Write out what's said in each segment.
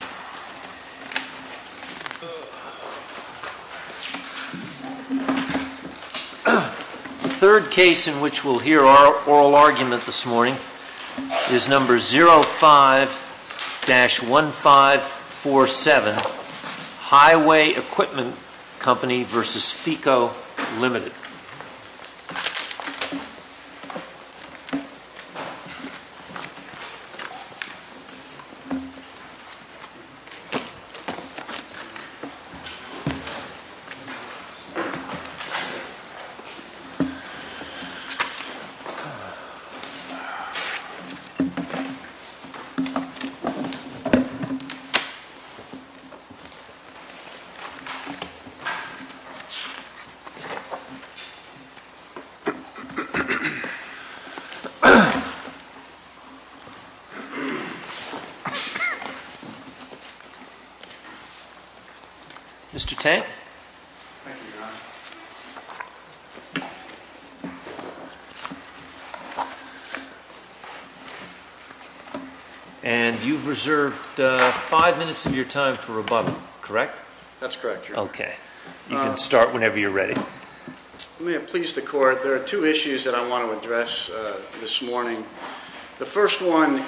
The third case in which we'll hear our oral argument this morning is number 05-1547, Highway Equipment Co v. Feco LTD. Mr. Tank? Thank you, Your Honor. And you've reserved five minutes of your time for rebuttal, correct? That's correct, Your Honor. Okay. You can start whenever you're ready. May it please the Court, there are two issues that I want to address this morning. The first one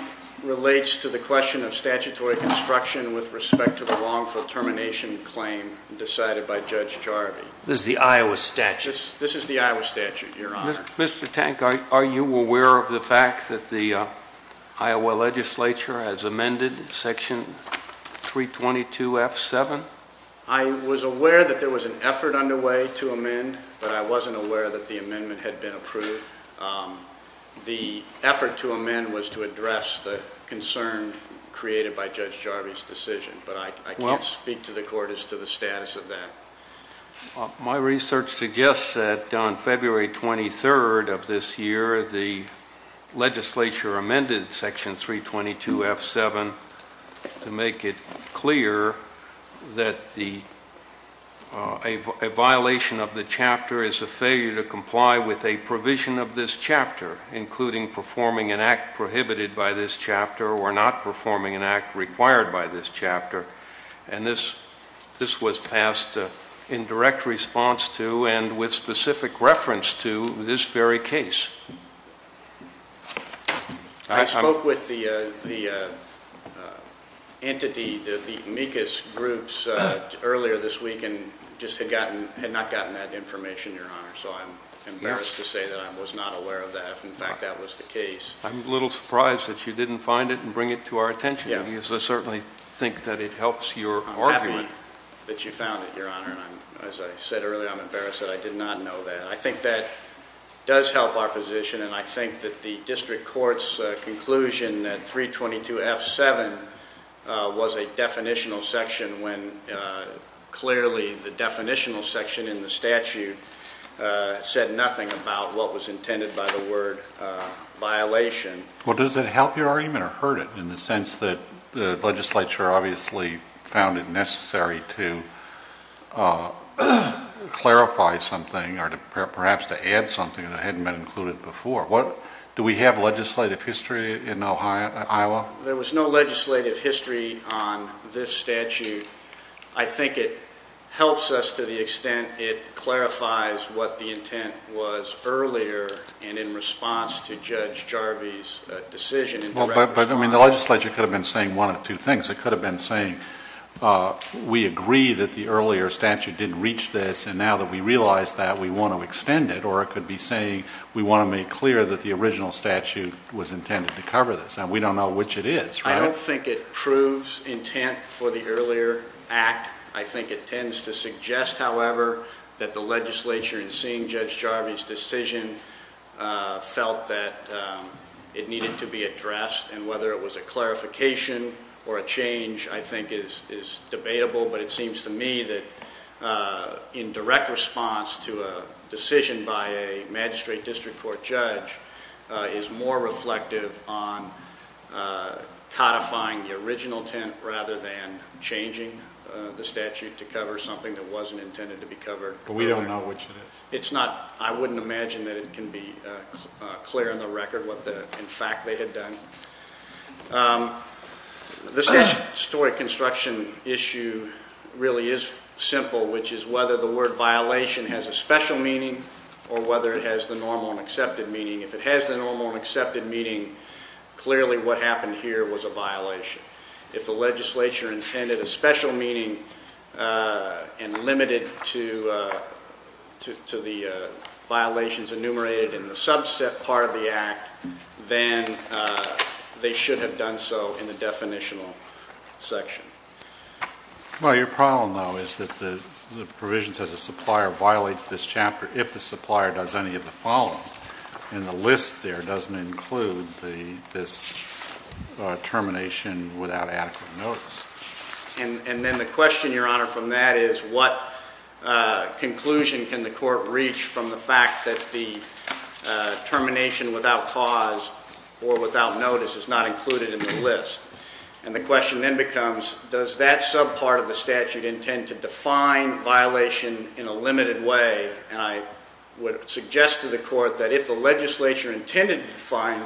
relates to the question of statutory construction with respect to the wrongful termination claim decided by Judge Jarvie. This is the Iowa statute? This is the Iowa statute, Your Honor. Mr. Tank, are you aware of the fact that the Iowa legislature has amended Section 322F7? I was aware that there was an effort underway to amend, but I wasn't aware that the amendment had been approved. The effort to amend was to address the concern created by Judge Jarvie's decision, but I can't speak to the Court as to the status of that. My research suggests that on February 23rd of this year, the legislature amended Section 322F7 to make it clear that a violation of the chapter is a failure to comply with a provision of this chapter, including performing an act prohibited by this chapter or not performing an act required by this chapter. And this was passed in direct response to and with specific reference to this very case. I spoke with the entity, the amicus groups, earlier this week and just had not gotten that information, Your Honor, so I'm embarrassed to say that I was not aware of that, if in fact that was the case. I'm a little surprised that you didn't find it and bring it to our attention, because I certainly think that it helps your argument. I'm happy that you found it, Your Honor, and as I said earlier, I'm embarrassed that I did not know that. I think that does help our position, and I think that the District Court's conclusion that 322F7 was a definitional section when clearly the definitional section in the statute said nothing about what was intended by the word violation. Well, does it help your argument or hurt it in the sense that the legislature obviously found it necessary to clarify something or perhaps to add something that hadn't been included before? Do we have legislative history in Iowa? There was no legislative history on this statute. I think it helps us to the extent it clarifies what the intent was earlier and in response to Judge Jarvie's decision. But the legislature could have been saying one of two things. It could have been saying we agree that the earlier statute didn't reach this, and now that we realize that, we want to extend it. Or it could be saying we want to make clear that the original statute was intended to cover this, and we don't know which it is, right? I don't think it proves intent for the earlier act. I think it tends to suggest, however, that the legislature in seeing Judge Jarvie's decision felt that it needed to be addressed, and whether it was a clarification or a change I think is debatable, but it seems to me that in direct response to a decision by a magistrate district court judge is more reflective on codifying the original intent rather than changing the statute to cover something that wasn't intended to be covered. But we don't know which it is. I wouldn't imagine that it can be clear on the record what in fact they had done. The statutory construction issue really is simple, which is whether the word violation has a special meaning or whether it has the normal and accepted meaning. If it has the normal and accepted meaning, clearly what happened here was a violation. If the legislature intended a special meaning and limited to the violations enumerated in the subset part of the act, then they should have done so in the definitional section. Well, your problem, though, is that the provisions as a supplier violates this chapter if the supplier does any of the following, and the list there doesn't include this termination without adequate notice. And then the question, your honor, from that is what conclusion can the court reach from the fact that the termination without cause or without notice is not included in the list? And the question then becomes, does that subpart of the statute intend to define violation in a limited way? And I would suggest to the court that if the legislature intended to define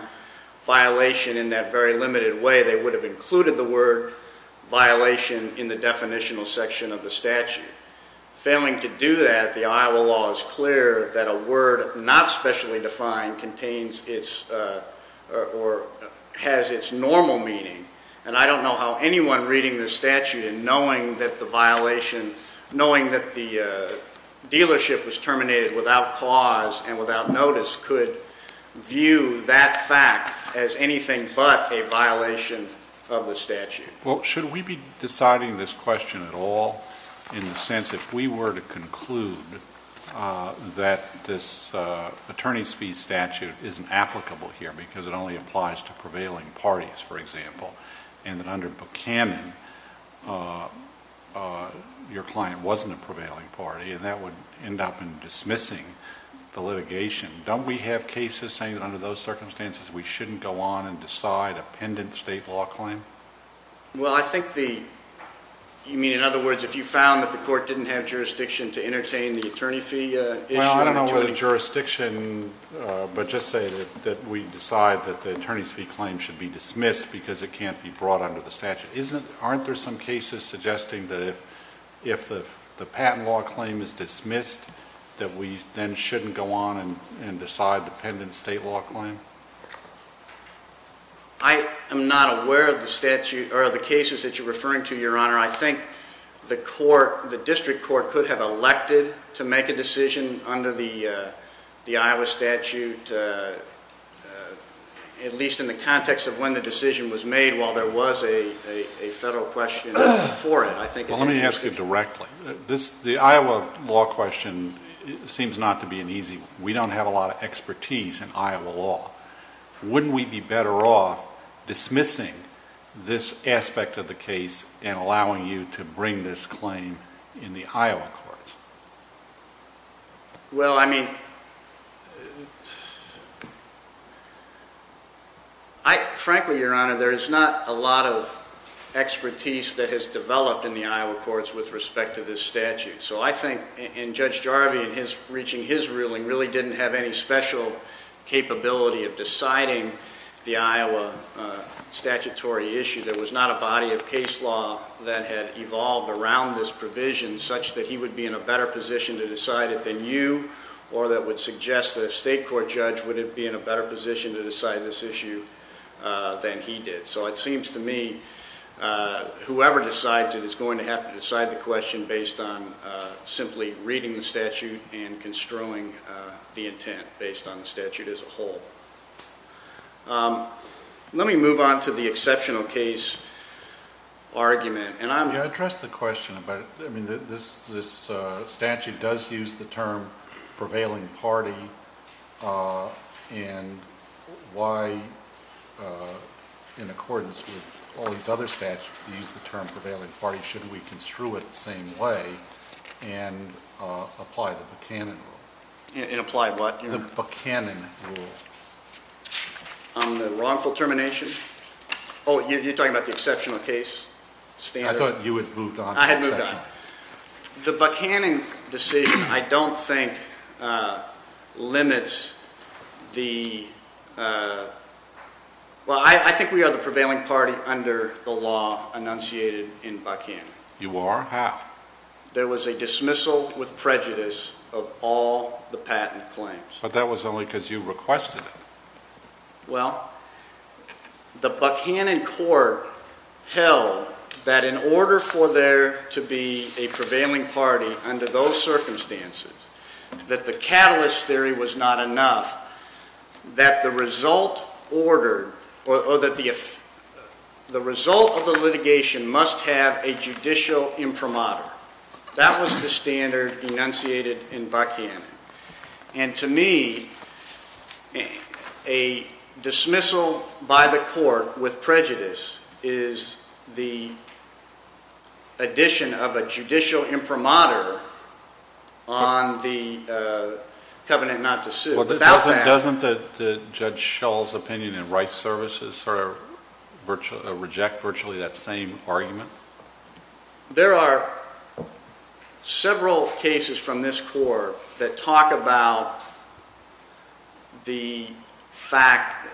violation in that very limited way, they would have included the word violation in the definitional section of the statute. Failing to do that, the Iowa law is clear that a word not specially defined contains its or has its normal meaning. And I don't know how anyone reading the statute and knowing that the violation, Well, should we be deciding this question at all in the sense that if we were to conclude that this attorney's fee statute isn't applicable here because it only applies to prevailing parties, for example, and that under Buchanan your client wasn't a prevailing party, and that would end up in dismissing the litigation, don't we have cases saying that under those circumstances we shouldn't go on and decide a pendent state law claim? Well, I think the, you mean in other words, if you found that the court didn't have jurisdiction to entertain the attorney fee issue? Well, I don't know whether jurisdiction, but just say that we decide that the attorney's fee claim should be dismissed because it can't be brought under the statute. Isn't, aren't there some cases suggesting that if the patent law claim is dismissed that we then shouldn't go on and decide the pendent state law claim? I am not aware of the statute or the cases that you're referring to, Your Honor. I think the court, the district court could have elected to make a decision under the Iowa statute, at least in the context of when the decision was made while there was a federal question for it. Well, let me ask you directly. This, the Iowa law question seems not to be an easy one. We don't have a lot of expertise in Iowa law. Wouldn't we be better off dismissing this aspect of the case and allowing you to bring this claim in the Iowa courts? Well, I mean, I, frankly, Your Honor, there is not a lot of expertise that has developed in the Iowa courts with respect to this statute. So I think, and Judge Jarvie, in his, reaching his ruling, really didn't have any special capability of deciding the Iowa statutory issue. There was not a body of case law that had evolved around this provision such that he would be in a better position to decide it than you, or that would suggest that a state court judge would be in a better position to decide this issue than he did. So it seems to me whoever decides it is going to have to decide the question based on simply reading the statute and construing the intent based on the statute as a whole. Let me move on to the exceptional case argument, and I'm... Can I address the question about, I mean, this statute does use the term prevailing party, and why, in accordance with all these other statutes that use the term prevailing party, shouldn't we construe it the same way and apply the Buchanan rule? And apply what, Your Honor? The Buchanan rule. On the wrongful termination? Oh, you're talking about the exceptional case standard? I thought you had moved on to exceptional. I had moved on. The Buchanan decision, I don't think, limits the... Well, I think we are the prevailing party under the law enunciated in Buchanan. You are? How? There was a dismissal with prejudice of all the patent claims. But that was only because you requested it. Well, the Buchanan court held that in order for there to be a prevailing party under those circumstances, that the catalyst theory was not enough, that the result ordered, or that the result of the litigation must have a judicial imprimatur. That was the standard enunciated in Buchanan. And to me, a dismissal by the court with prejudice is the addition of a judicial imprimatur on the covenant not to sue. Doesn't Judge Schull's opinion in rights services reject virtually that same argument? There are several cases from this court that talk about the fact,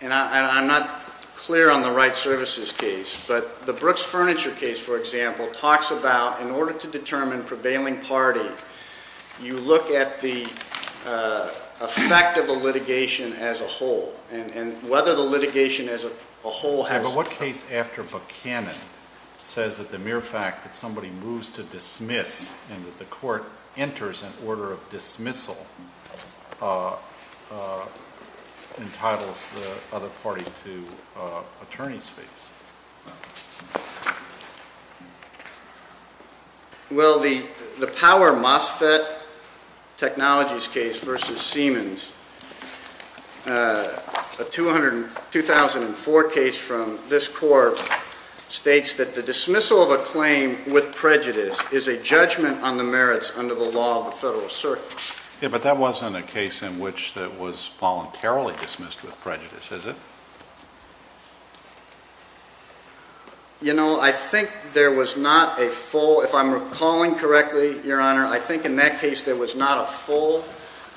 and I'm not clear on the rights services case, but the Brooks Furniture case, for example, talks about in order to determine prevailing party, you look at the effect of the litigation as a whole, and whether the litigation as a whole has... The case after Buchanan says that the mere fact that somebody moves to dismiss and that the court enters an order of dismissal entitles the other party to attorney's fees. Well, the Power MOSFET Technologies case versus Siemens, a 2004 case from this court states that the dismissal of a claim with prejudice is a judgment on the merits under the law of the federal circuit. Yeah, but that wasn't a case in which it was voluntarily dismissed with prejudice, is it? You know, I think there was not a full, if I'm recalling correctly, Your Honor, I think in that case there was not a full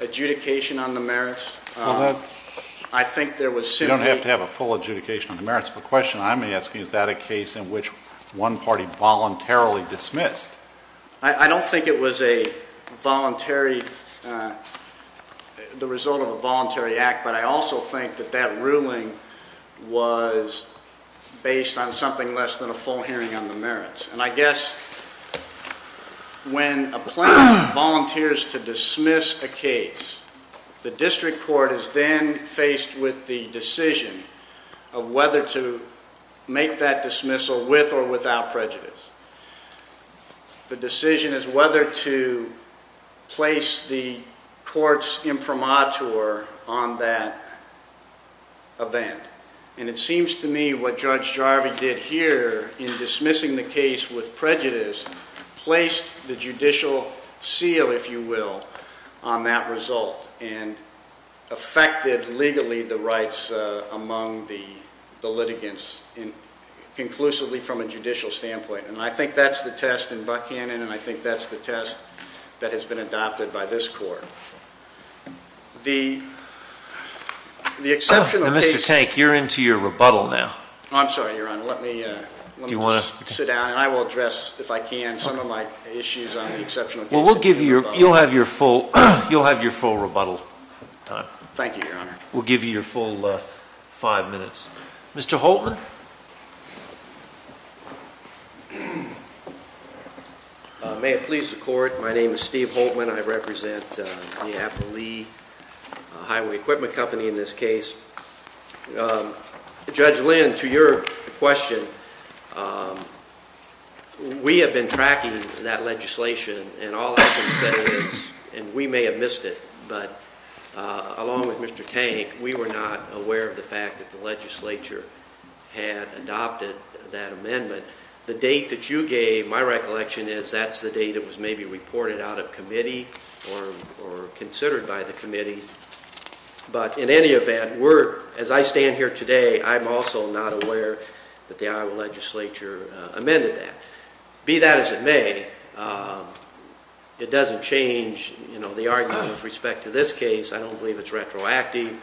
adjudication on the merits. I think there was simply... You don't have to have a full adjudication on the merits of the question I'm asking. Is that a case in which one party voluntarily dismissed? I don't think it was a voluntary, the result of a voluntary act, but I also think that that ruling was based on something less than a full hearing on the merits. And I guess when a plaintiff volunteers to dismiss a case, the district court is then faced with the decision of whether to make that dismissal with or without prejudice. The decision is whether to place the court's imprimatur on that event. And it seems to me what Judge Jarvie did here in dismissing the case with prejudice placed the judicial seal, if you will, on that result and affected legally the rights among the litigants conclusively from a judicial standpoint. And I think that's the test in Buckhannon and I think that's the test that has been adopted by this court. The exceptional case... Now, Mr. Tank, you're into your rebuttal now. I'm sorry, Your Honor, let me just sit down and I will address, if I can, some of my issues on the exceptional case. Well, you'll have your full rebuttal time. Thank you, Your Honor. We'll give you your full five minutes. Mr. Holtman? May it please the Court, my name is Steve Holtman. I represent the Apple Lee Highway Equipment Company in this case. Judge Lynn, to your question, we have been tracking that legislation and all I can say is, and we may have missed it, but along with Mr. Tank, we were not aware of the fact that the legislature had adopted that amendment. The date that you gave, my recollection is that's the date it was maybe reported out of committee or considered by the committee, but in any event, as I stand here today, I'm also not aware that the Iowa legislature amended that. Be that as it may, it doesn't change the argument with respect to this case. I don't believe it's retroactive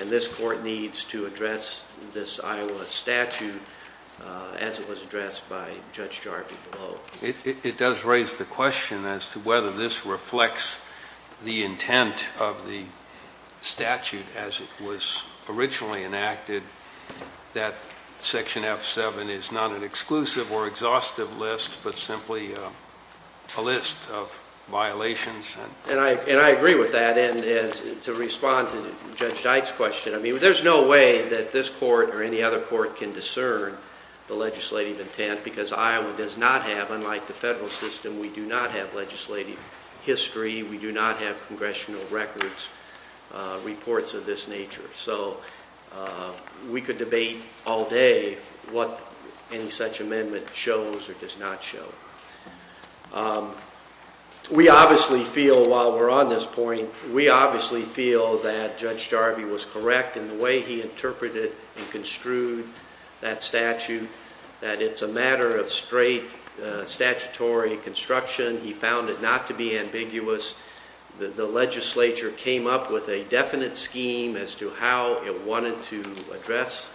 and this Court needs to address this Iowa statute as it was addressed by Judge Jarvie Below. It does raise the question as to whether this reflects the intent of the statute as it was originally enacted, that Section F7 is not an exclusive or exhaustive list, but simply a list of violations. And I agree with that. And to respond to Judge Dyke's question, I mean, there's no way that this Court or any other court can discern the legislative intent because Iowa does not have, unlike the federal system, we do not have legislative history, we do not have congressional records, reports of this nature. So we could debate all day what any such amendment shows or does not show. We obviously feel, while we're on this point, we obviously feel that Judge Jarvie was correct in the way he interpreted and construed that statute, that it's a matter of straight statutory construction. He found it not to be ambiguous. The legislature came up with a definite scheme as to how it wanted to address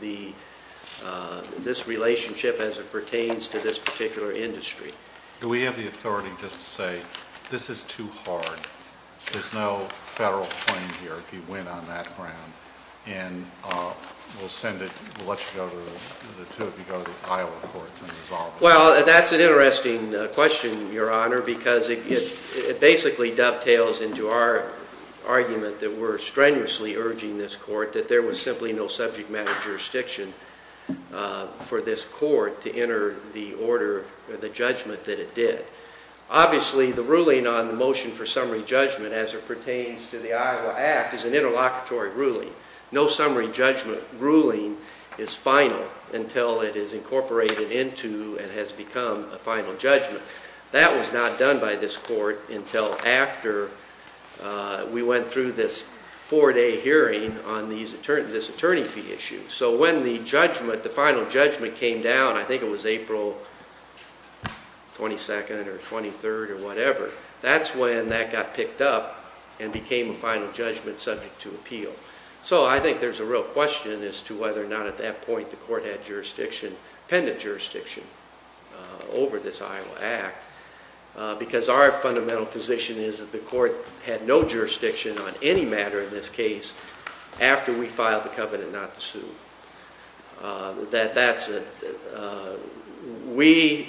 this relationship as it pertains to this particular industry. Do we have the authority just to say, this is too hard, there's no federal claim here if you win on that ground, and we'll send it, we'll let you go to, the two of you go to the Iowa courts and resolve it? Well, that's an interesting question, Your Honor, because it basically dovetails into our argument that we're strenuously urging this Court that there was simply no subject matter jurisdiction for this Court to enter the order, the judgment that it did. Obviously, the ruling on the motion for summary judgment as it pertains to the Iowa Act is an interlocutory ruling. No summary judgment ruling is final until it is incorporated into and has become a final judgment. That was not done by this Court until after we went through this four-day hearing on this attorney fee issue. So when the judgment, the final judgment came down, I think it was April 22nd or 23rd or whatever, that's when that got picked up and became a final judgment subject to appeal. So I think there's a real question as to whether or not at that point the Court had jurisdiction, appended jurisdiction over this Iowa Act, because our fundamental position is that the Court had no jurisdiction on any matter in this case after we filed the covenant not to sue. That's it. We,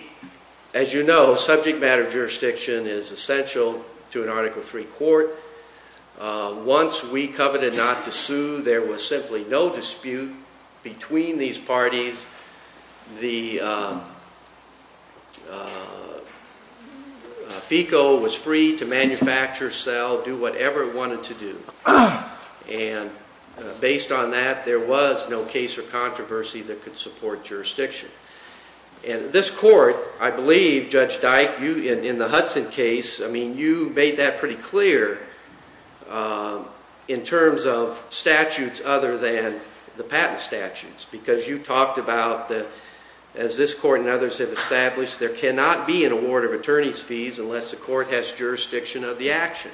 as you know, subject matter jurisdiction is essential to an Article III Court. Once we coveted not to sue, there was simply no dispute between these parties. The FECO was free to manufacture, sell, do whatever it wanted to do. And based on that, there was no case or controversy that could support jurisdiction. And this Court, I believe, Judge Dyke, in the Hudson case, you made that pretty clear in terms of statutes other than the patent statutes, because you talked about, as this Court and others have established, there cannot be an award of attorney's fees unless the Court has jurisdiction of the action.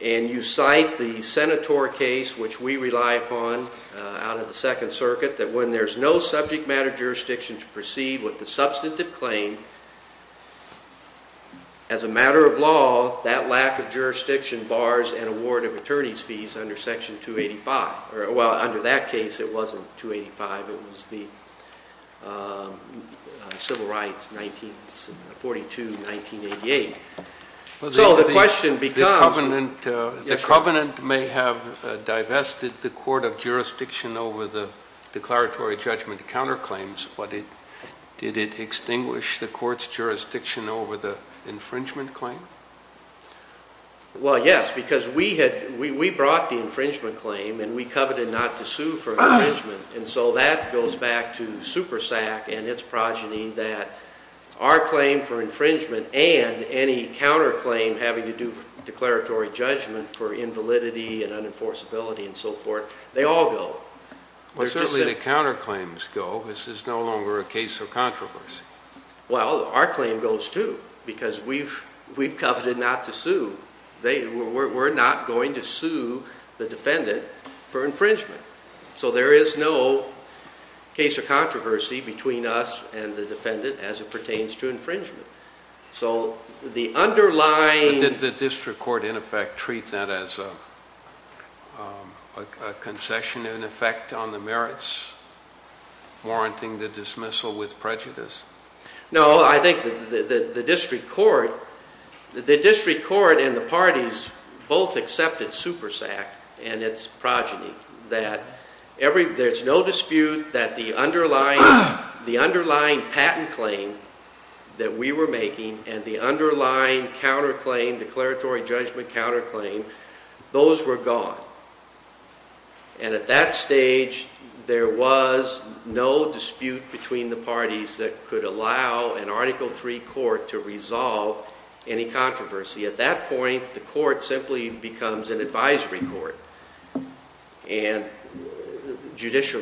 And you cite the Senator case, which we rely upon out of the Second Circuit, that when there's no subject matter jurisdiction to proceed with the substantive claim, as a matter of law, that lack of jurisdiction bars an award of attorney's fees under Section 285. Well, under that case, it wasn't 285. It was the Civil Rights, 1942-1988. So the question becomes... The Covenant may have divested the Court of Jurisdiction over the declaratory judgment counterclaims, but did it extinguish the Court's jurisdiction over the infringement claim? Well, yes, because we brought the infringement claim, and we coveted not to sue for infringement. And so that goes back to SuperSAC and its progeny that our claim for infringement and any counterclaim having to do with declaratory judgment for invalidity and unenforceability and so forth, they all go. Well, certainly the counterclaims go. This is no longer a case of controversy. Well, our claim goes, too, because we've coveted not to sue. We're not going to sue the defendant for infringement. So there is no case of controversy between us and the defendant as it pertains to infringement. So the underlying... Did the district court, in effect, treat that as a concession, in effect, on the merits, warranting the dismissal with prejudice? No, I think the district court and the parties both accepted SuperSAC and its progeny that there's no dispute that the underlying patent claim that we were making and the underlying declaratory judgment counterclaim, those were gone. And at that stage, there was no dispute between the parties that could allow an Article III court to resolve any controversy. At that point, the court simply becomes an advisory court, and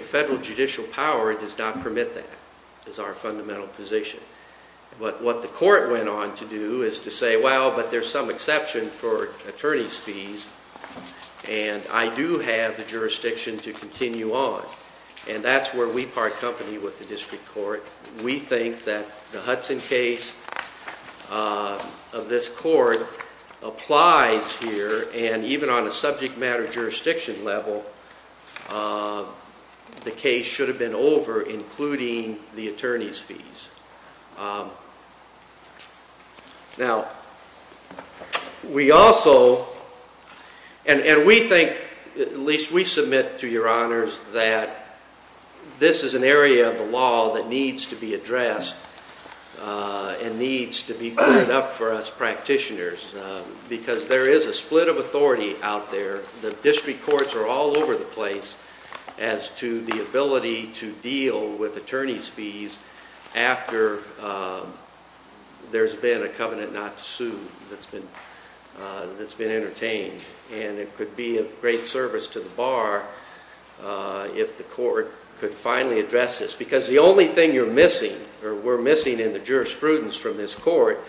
federal judicial power does not permit that as our fundamental position. But what the court went on to do is to say, well, but there's some exception for attorney's fees, and I do have the jurisdiction to continue on, and that's where we part company with the district court. We think that the Hudson case of this court applies here, and even on a subject matter jurisdiction level, the case should have been over, including the attorney's fees. Now, we also, and we think, at least we submit to your honors, that this is an area of the law that needs to be addressed and needs to be cleaned up for us practitioners, because there is a split of authority out there. The district courts are all over the place as to the ability to deal with attorney's fees after there's been a covenant not to sue that's been entertained, and it could be of great service to the bar if the court could finally address this. Because the only thing you're missing, or we're missing in the jurisprudence from this court,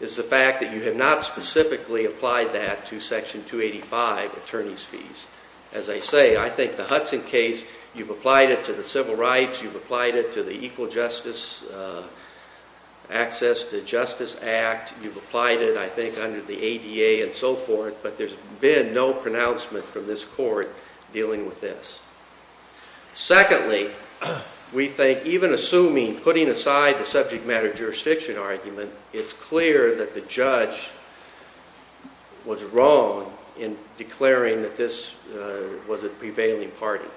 is the fact that you have not specifically applied that to Section 285 attorney's fees. As I say, I think the Hudson case, you've applied it to the civil rights, you've applied it to the Equal Justice, Access to Justice Act, you've applied it, I think, under the ADA and so forth, but there's been no pronouncement from this court dealing with this. Secondly, we think, even assuming, putting aside the subject matter jurisdiction argument, it's clear that the judge was wrong in declaring that this was a prevailing party.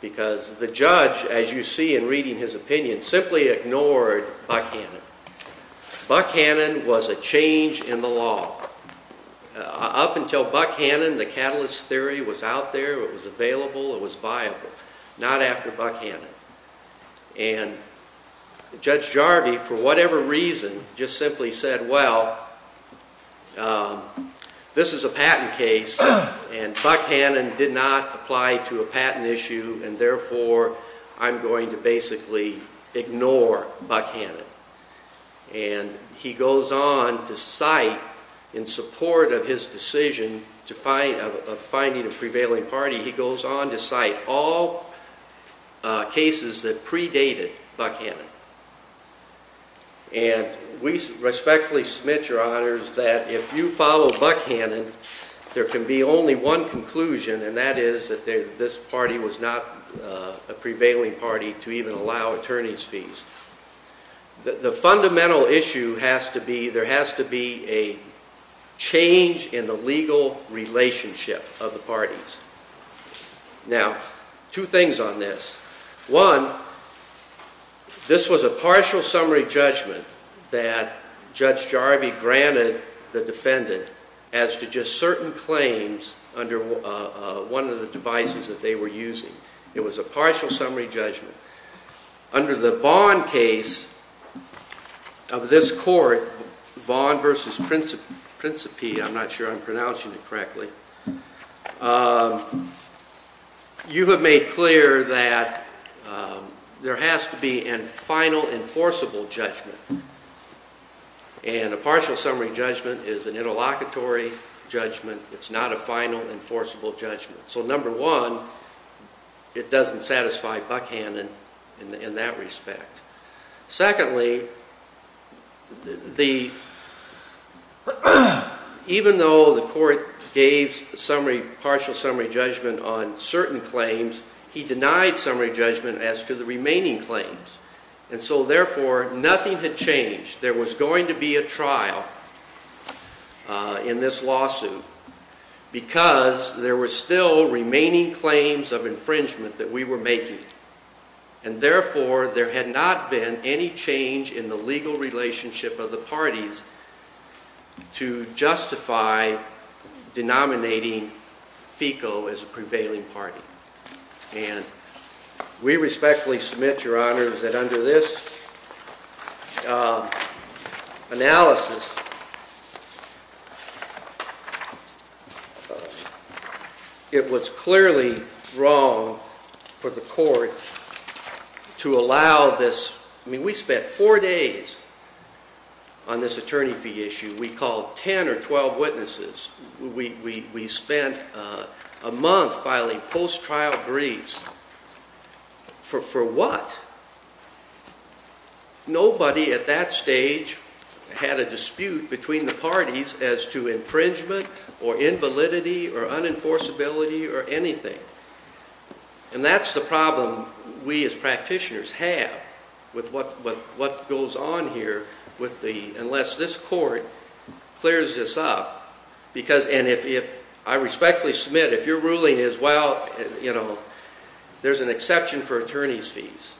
Because the judge, as you see in reading his opinion, simply ignored Buckhannon. Buckhannon was a change in the law. Up until Buckhannon, the catalyst theory was out there, it was available, it was viable. Not after Buckhannon. And Judge Jarvie, for whatever reason, just simply said, well, this is a patent case, and Buckhannon did not apply to a patent issue, and therefore, I'm going to basically ignore Buckhannon. And he goes on to cite, in support of his decision of finding a prevailing party, he goes on to cite all cases that predated Buckhannon. And we respectfully submit, Your Honors, that if you follow Buckhannon, there can be only one conclusion, and that is that this party was not a prevailing party to even allow attorney's fees. The fundamental issue has to be, there has to be a change in the legal relationship of the parties. Now, two things on this. One, this was a partial summary judgment that Judge Jarvie granted the defendant as to just certain claims under one of the devices that they were using. It was a partial summary judgment. Under the Vaughn case of this court, Vaughn v. Principi, I'm not sure I'm pronouncing it correctly, you have made clear that there has to be a final enforceable judgment. And a partial summary judgment is an interlocutory judgment. It's not a final enforceable judgment. So number one, it doesn't satisfy Buckhannon in that respect. Secondly, even though the court gave partial summary judgment on certain claims, he denied summary judgment as to the remaining claims. And so therefore, nothing had changed. There was going to be a trial in this lawsuit because there were still remaining claims of infringement that we were making. And therefore, there had not been any change in the legal relationship of the parties to justify denominating FECO as a prevailing party. And we respectfully submit, Your Honors, that under this analysis, it was clearly wrong for the court to allow this. I mean, we spent four days on this attorney fee issue. We called 10 or 12 witnesses. We spent a month filing post-trial briefs. For what? Nobody at that stage had a dispute between the parties as to infringement or invalidity or unenforceability or anything. And that's the problem we as practitioners have with what goes on here unless this court clears this up. And I respectfully submit, if your ruling is, well, there's an exception for attorney's fees,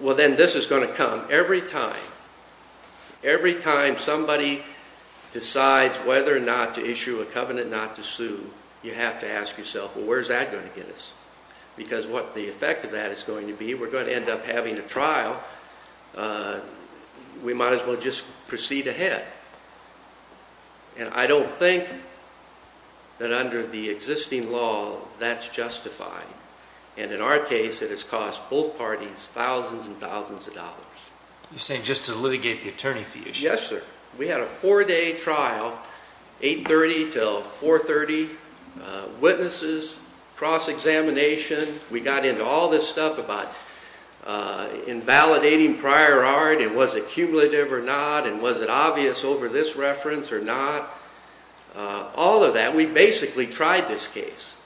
well, then this is going to come every time. Every time somebody decides whether or not to issue a covenant not to sue, you have to ask yourself, well, where's that going to get us? Because what the effect of that is going to be, we're going to end up having a trial. We might as well just proceed ahead. And I don't think that under the existing law that's justified. And in our case, it has cost both parties thousands and thousands of dollars. You're saying just to litigate the attorney fee issue. Yes, sir. We had a four-day trial, 830 till 430, witnesses, cross-examination. We got into all this stuff about invalidating prior art and was it cumulative or not and was it obvious over this reference or not. All of that, we basically tried this case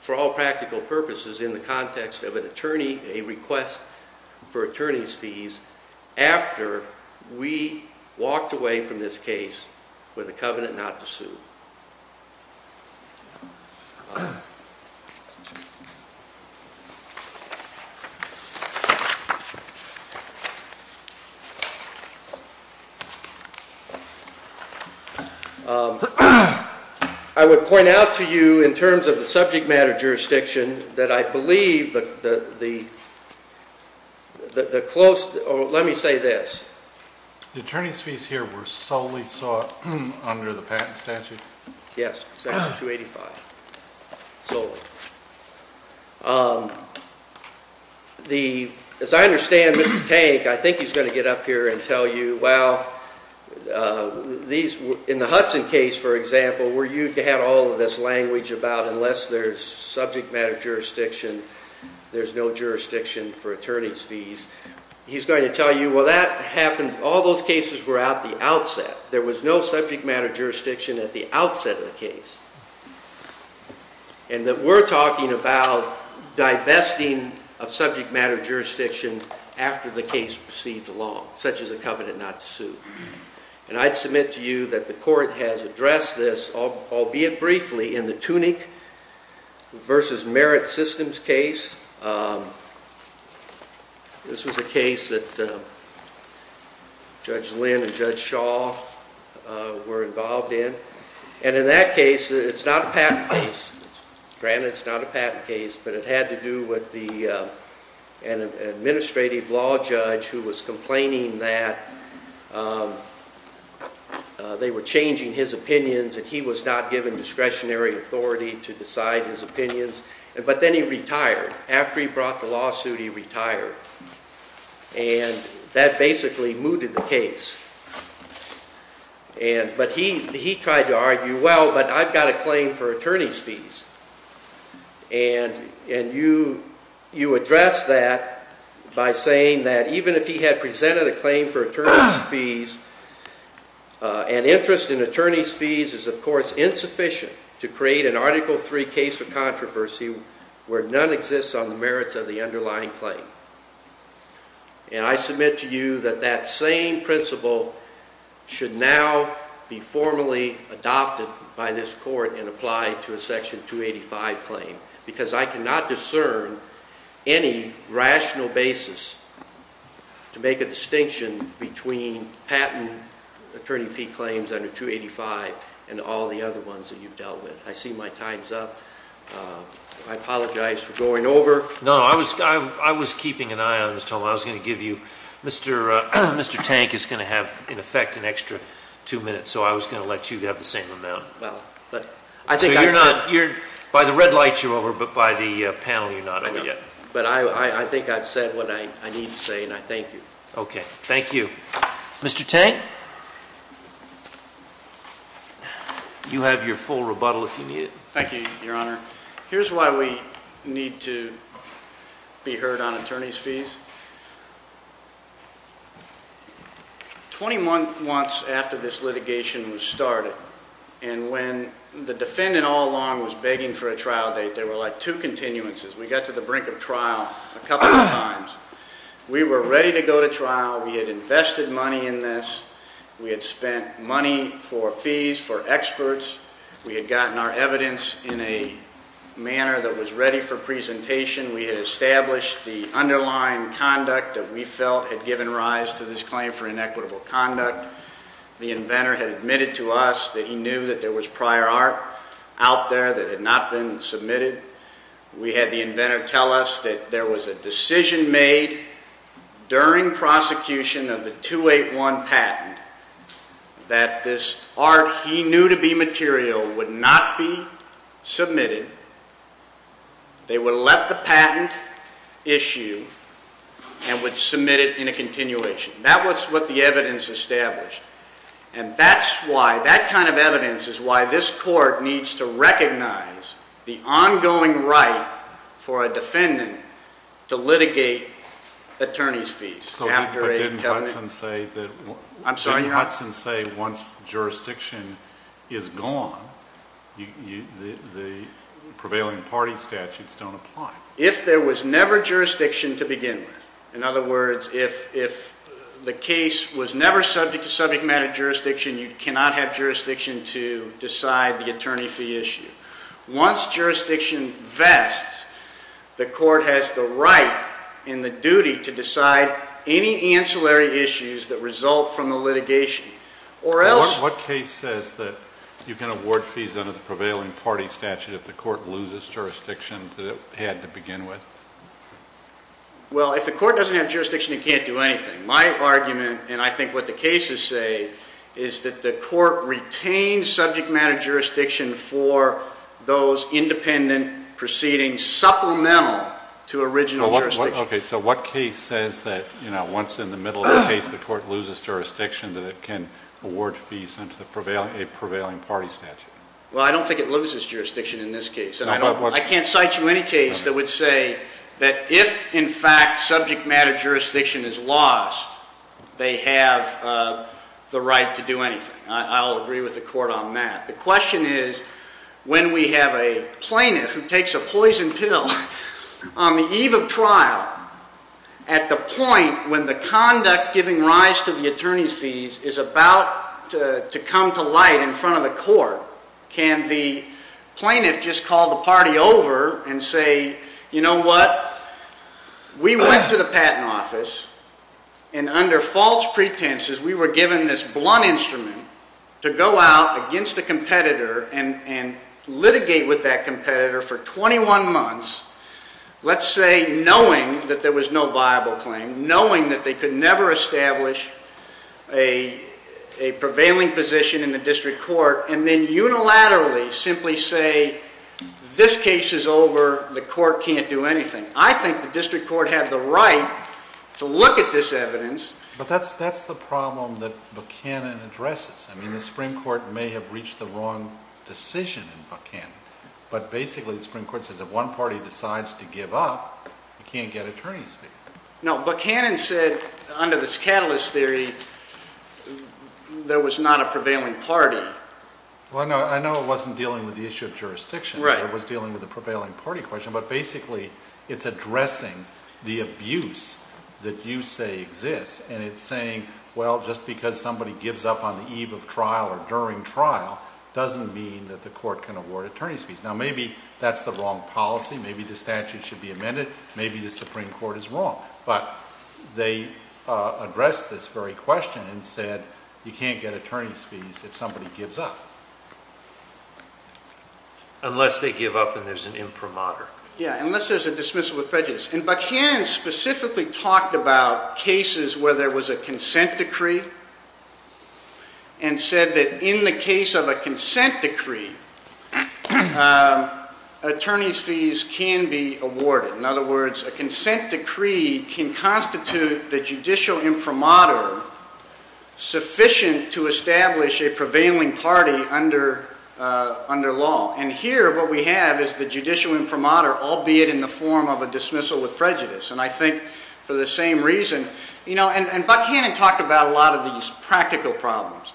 for all practical purposes in the context of an attorney, a request for attorney's fees after we walked away from this case with a covenant not to sue. I would point out to you in terms of the subject matter jurisdiction that I believe the close, let me say this. The attorney's fees here were solely sought under the patent statute? Yes, Section 285, solely. As I understand, Mr. Tank, I think he's going to get up here and tell you, well, in the Hudson case, for example, where you had all of this language about unless there's subject matter jurisdiction, there's no jurisdiction for attorney's fees. He's going to tell you, well, that happened, all those cases were at the outset. There was no subject matter jurisdiction at the outset of the case. And that we're talking about divesting of subject matter jurisdiction after the case proceeds along, such as a covenant not to sue. And I'd submit to you that the court has addressed this, albeit briefly, in the Tunick v. Merit Systems case. This was a case that Judge Lynn and Judge Shaw were involved in. And in that case, it's not a patent case. Granted, it's not a patent case, but it had to do with an administrative law judge who was complaining that they were changing his opinions and he was not given discretionary authority to decide his opinions. But then he retired. After he brought the lawsuit, he retired. And that basically mooted the case. But he tried to argue, well, but I've got a claim for attorney's fees. And you addressed that by saying that even if he had presented a claim for attorney's fees, an interest in attorney's fees is, of course, insufficient to create an Article III case of controversy where none exists on the merits of the underlying claim. And I submit to you that that same principle should now be formally adopted by this court and applied to a Section 285 claim because I cannot discern any rational basis to make a distinction between patent attorney fee claims under 285 and all the other ones that you've dealt with. I see my time's up. I apologize for going over. No, I was keeping an eye on this, Tom. I was going to give you... Mr. Tank is going to have, in effect, an extra two minutes, so I was going to let you have the same amount. Well, but I think I said... So you're not... By the red light, you're over, but by the panel, you're not over yet. But I think I've said what I need to say, and I thank you. Okay, thank you. Mr. Tank? You have your full rebuttal if you need it. Thank you, Your Honor. Here's why we need to be heard on attorney's fees. 20 months after this litigation was started, and when the defendant all along was begging for a trial date, there were, like, two continuances. We got to the brink of trial a couple of times. We were ready to go to trial. We had invested money in this. We had spent money for fees for experts. We had gotten our evidence in a manner that was ready for presentation. We had established the underlying conduct that we felt had given rise to this claim for inequitable conduct. The inventor had admitted to us that he knew that there was prior art out there that had not been submitted. We had the inventor tell us that there was a decision made during prosecution of the 281 patent that this art he knew to be material would not be submitted. They would let the patent issue and would submit it in a continuation. That was what the evidence established. And that's why, that kind of evidence is why this court needs to recognize the ongoing right for a defendant to litigate attorney's fees after a... But didn't Hudson say that... I'm sorry, Your Honor. Didn't Hudson say once jurisdiction is gone, the prevailing party statutes don't apply? If there was never jurisdiction to begin with. In other words, if the case was never subject to subject matter jurisdiction, you cannot have jurisdiction to decide the attorney fee issue. Once jurisdiction vests, the court has the right and the duty to decide any ancillary issues that result from the litigation. What case says that you can award fees under the prevailing party statute if the court loses jurisdiction that it had to begin with? Well, if the court doesn't have jurisdiction, it can't do anything. My argument, and I think what the cases say, is that the court retains subject matter jurisdiction for those independent proceedings supplemental to original jurisdiction. Okay, so what case says that once in the middle of the case the court loses jurisdiction, that it can award fees under a prevailing party statute? Well, I don't think it loses jurisdiction in this case. I can't cite you any case that would say that if, in fact, subject matter jurisdiction is lost, they have the right to do anything. I'll agree with the court on that. The question is, when we have a plaintiff who takes a poison pill on the eve of trial, at the point when the conduct giving rise to the attorney's fees is about to come to light in front of the court, can the plaintiff just call the party over and say, you know what, we went to the patent office, and under false pretenses, we were given this blunt instrument to go out against a competitor and litigate with that competitor for 21 months, let's say knowing that there was no viable claim, knowing that they could never establish a prevailing position in the district court, and then unilaterally simply say, this case is over, the court can't do anything. I think the district court had the right to look at this evidence. But that's the problem that Buchanan addresses. I mean, the Supreme Court may have reached the wrong decision in Buchanan, but basically the Supreme Court says if one party decides to give up, you can't get attorney's fees. No, Buchanan said, under this catalyst theory, there was not a prevailing party. Well, I know it wasn't dealing with the issue of jurisdiction, it was dealing with the prevailing party question, but basically it's addressing the abuse that you say exists, and it's saying, well, just because somebody gives up on the eve of trial or during trial doesn't mean that the court can award attorney's fees. Now, maybe that's the wrong policy, maybe the statute should be amended, maybe the Supreme Court is wrong. But they addressed this very question and said, you can't get attorney's fees if somebody gives up. Unless they give up and there's an imprimatur. Yeah, unless there's a dismissal of prejudice. And Buchanan specifically talked about cases where there was a consent decree and said that in the case of a consent decree, attorney's fees can be awarded. In other words, a consent decree can constitute the judicial imprimatur sufficient to establish a prevailing party under law. And here what we have is the judicial imprimatur, albeit in the form of a dismissal with prejudice. And I think for the same reason... And Buchanan talked about a lot of these practical problems.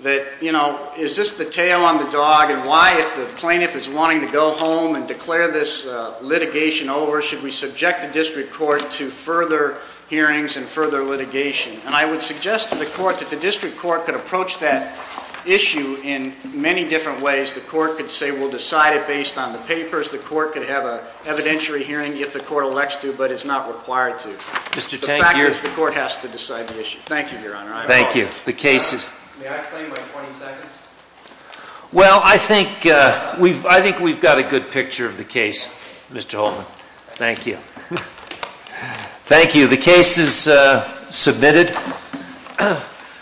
That, you know, is this the tail on the dog and why, if the plaintiff is wanting to go home and declare this litigation over, should we subject the district court to further hearings and further litigation? And I would suggest to the court that the district court could approach that issue in many different ways. The court could say, we'll decide it based on the papers. The court could have an evidentiary hearing if the court elects to, but it's not required to. The fact is, the court has to decide the issue. Thank you, Your Honor. Thank you. May I claim my 20 seconds? Well, I think we've got a good picture of the case, Mr. Holtman. Thank you. Thank you. The case is submitted.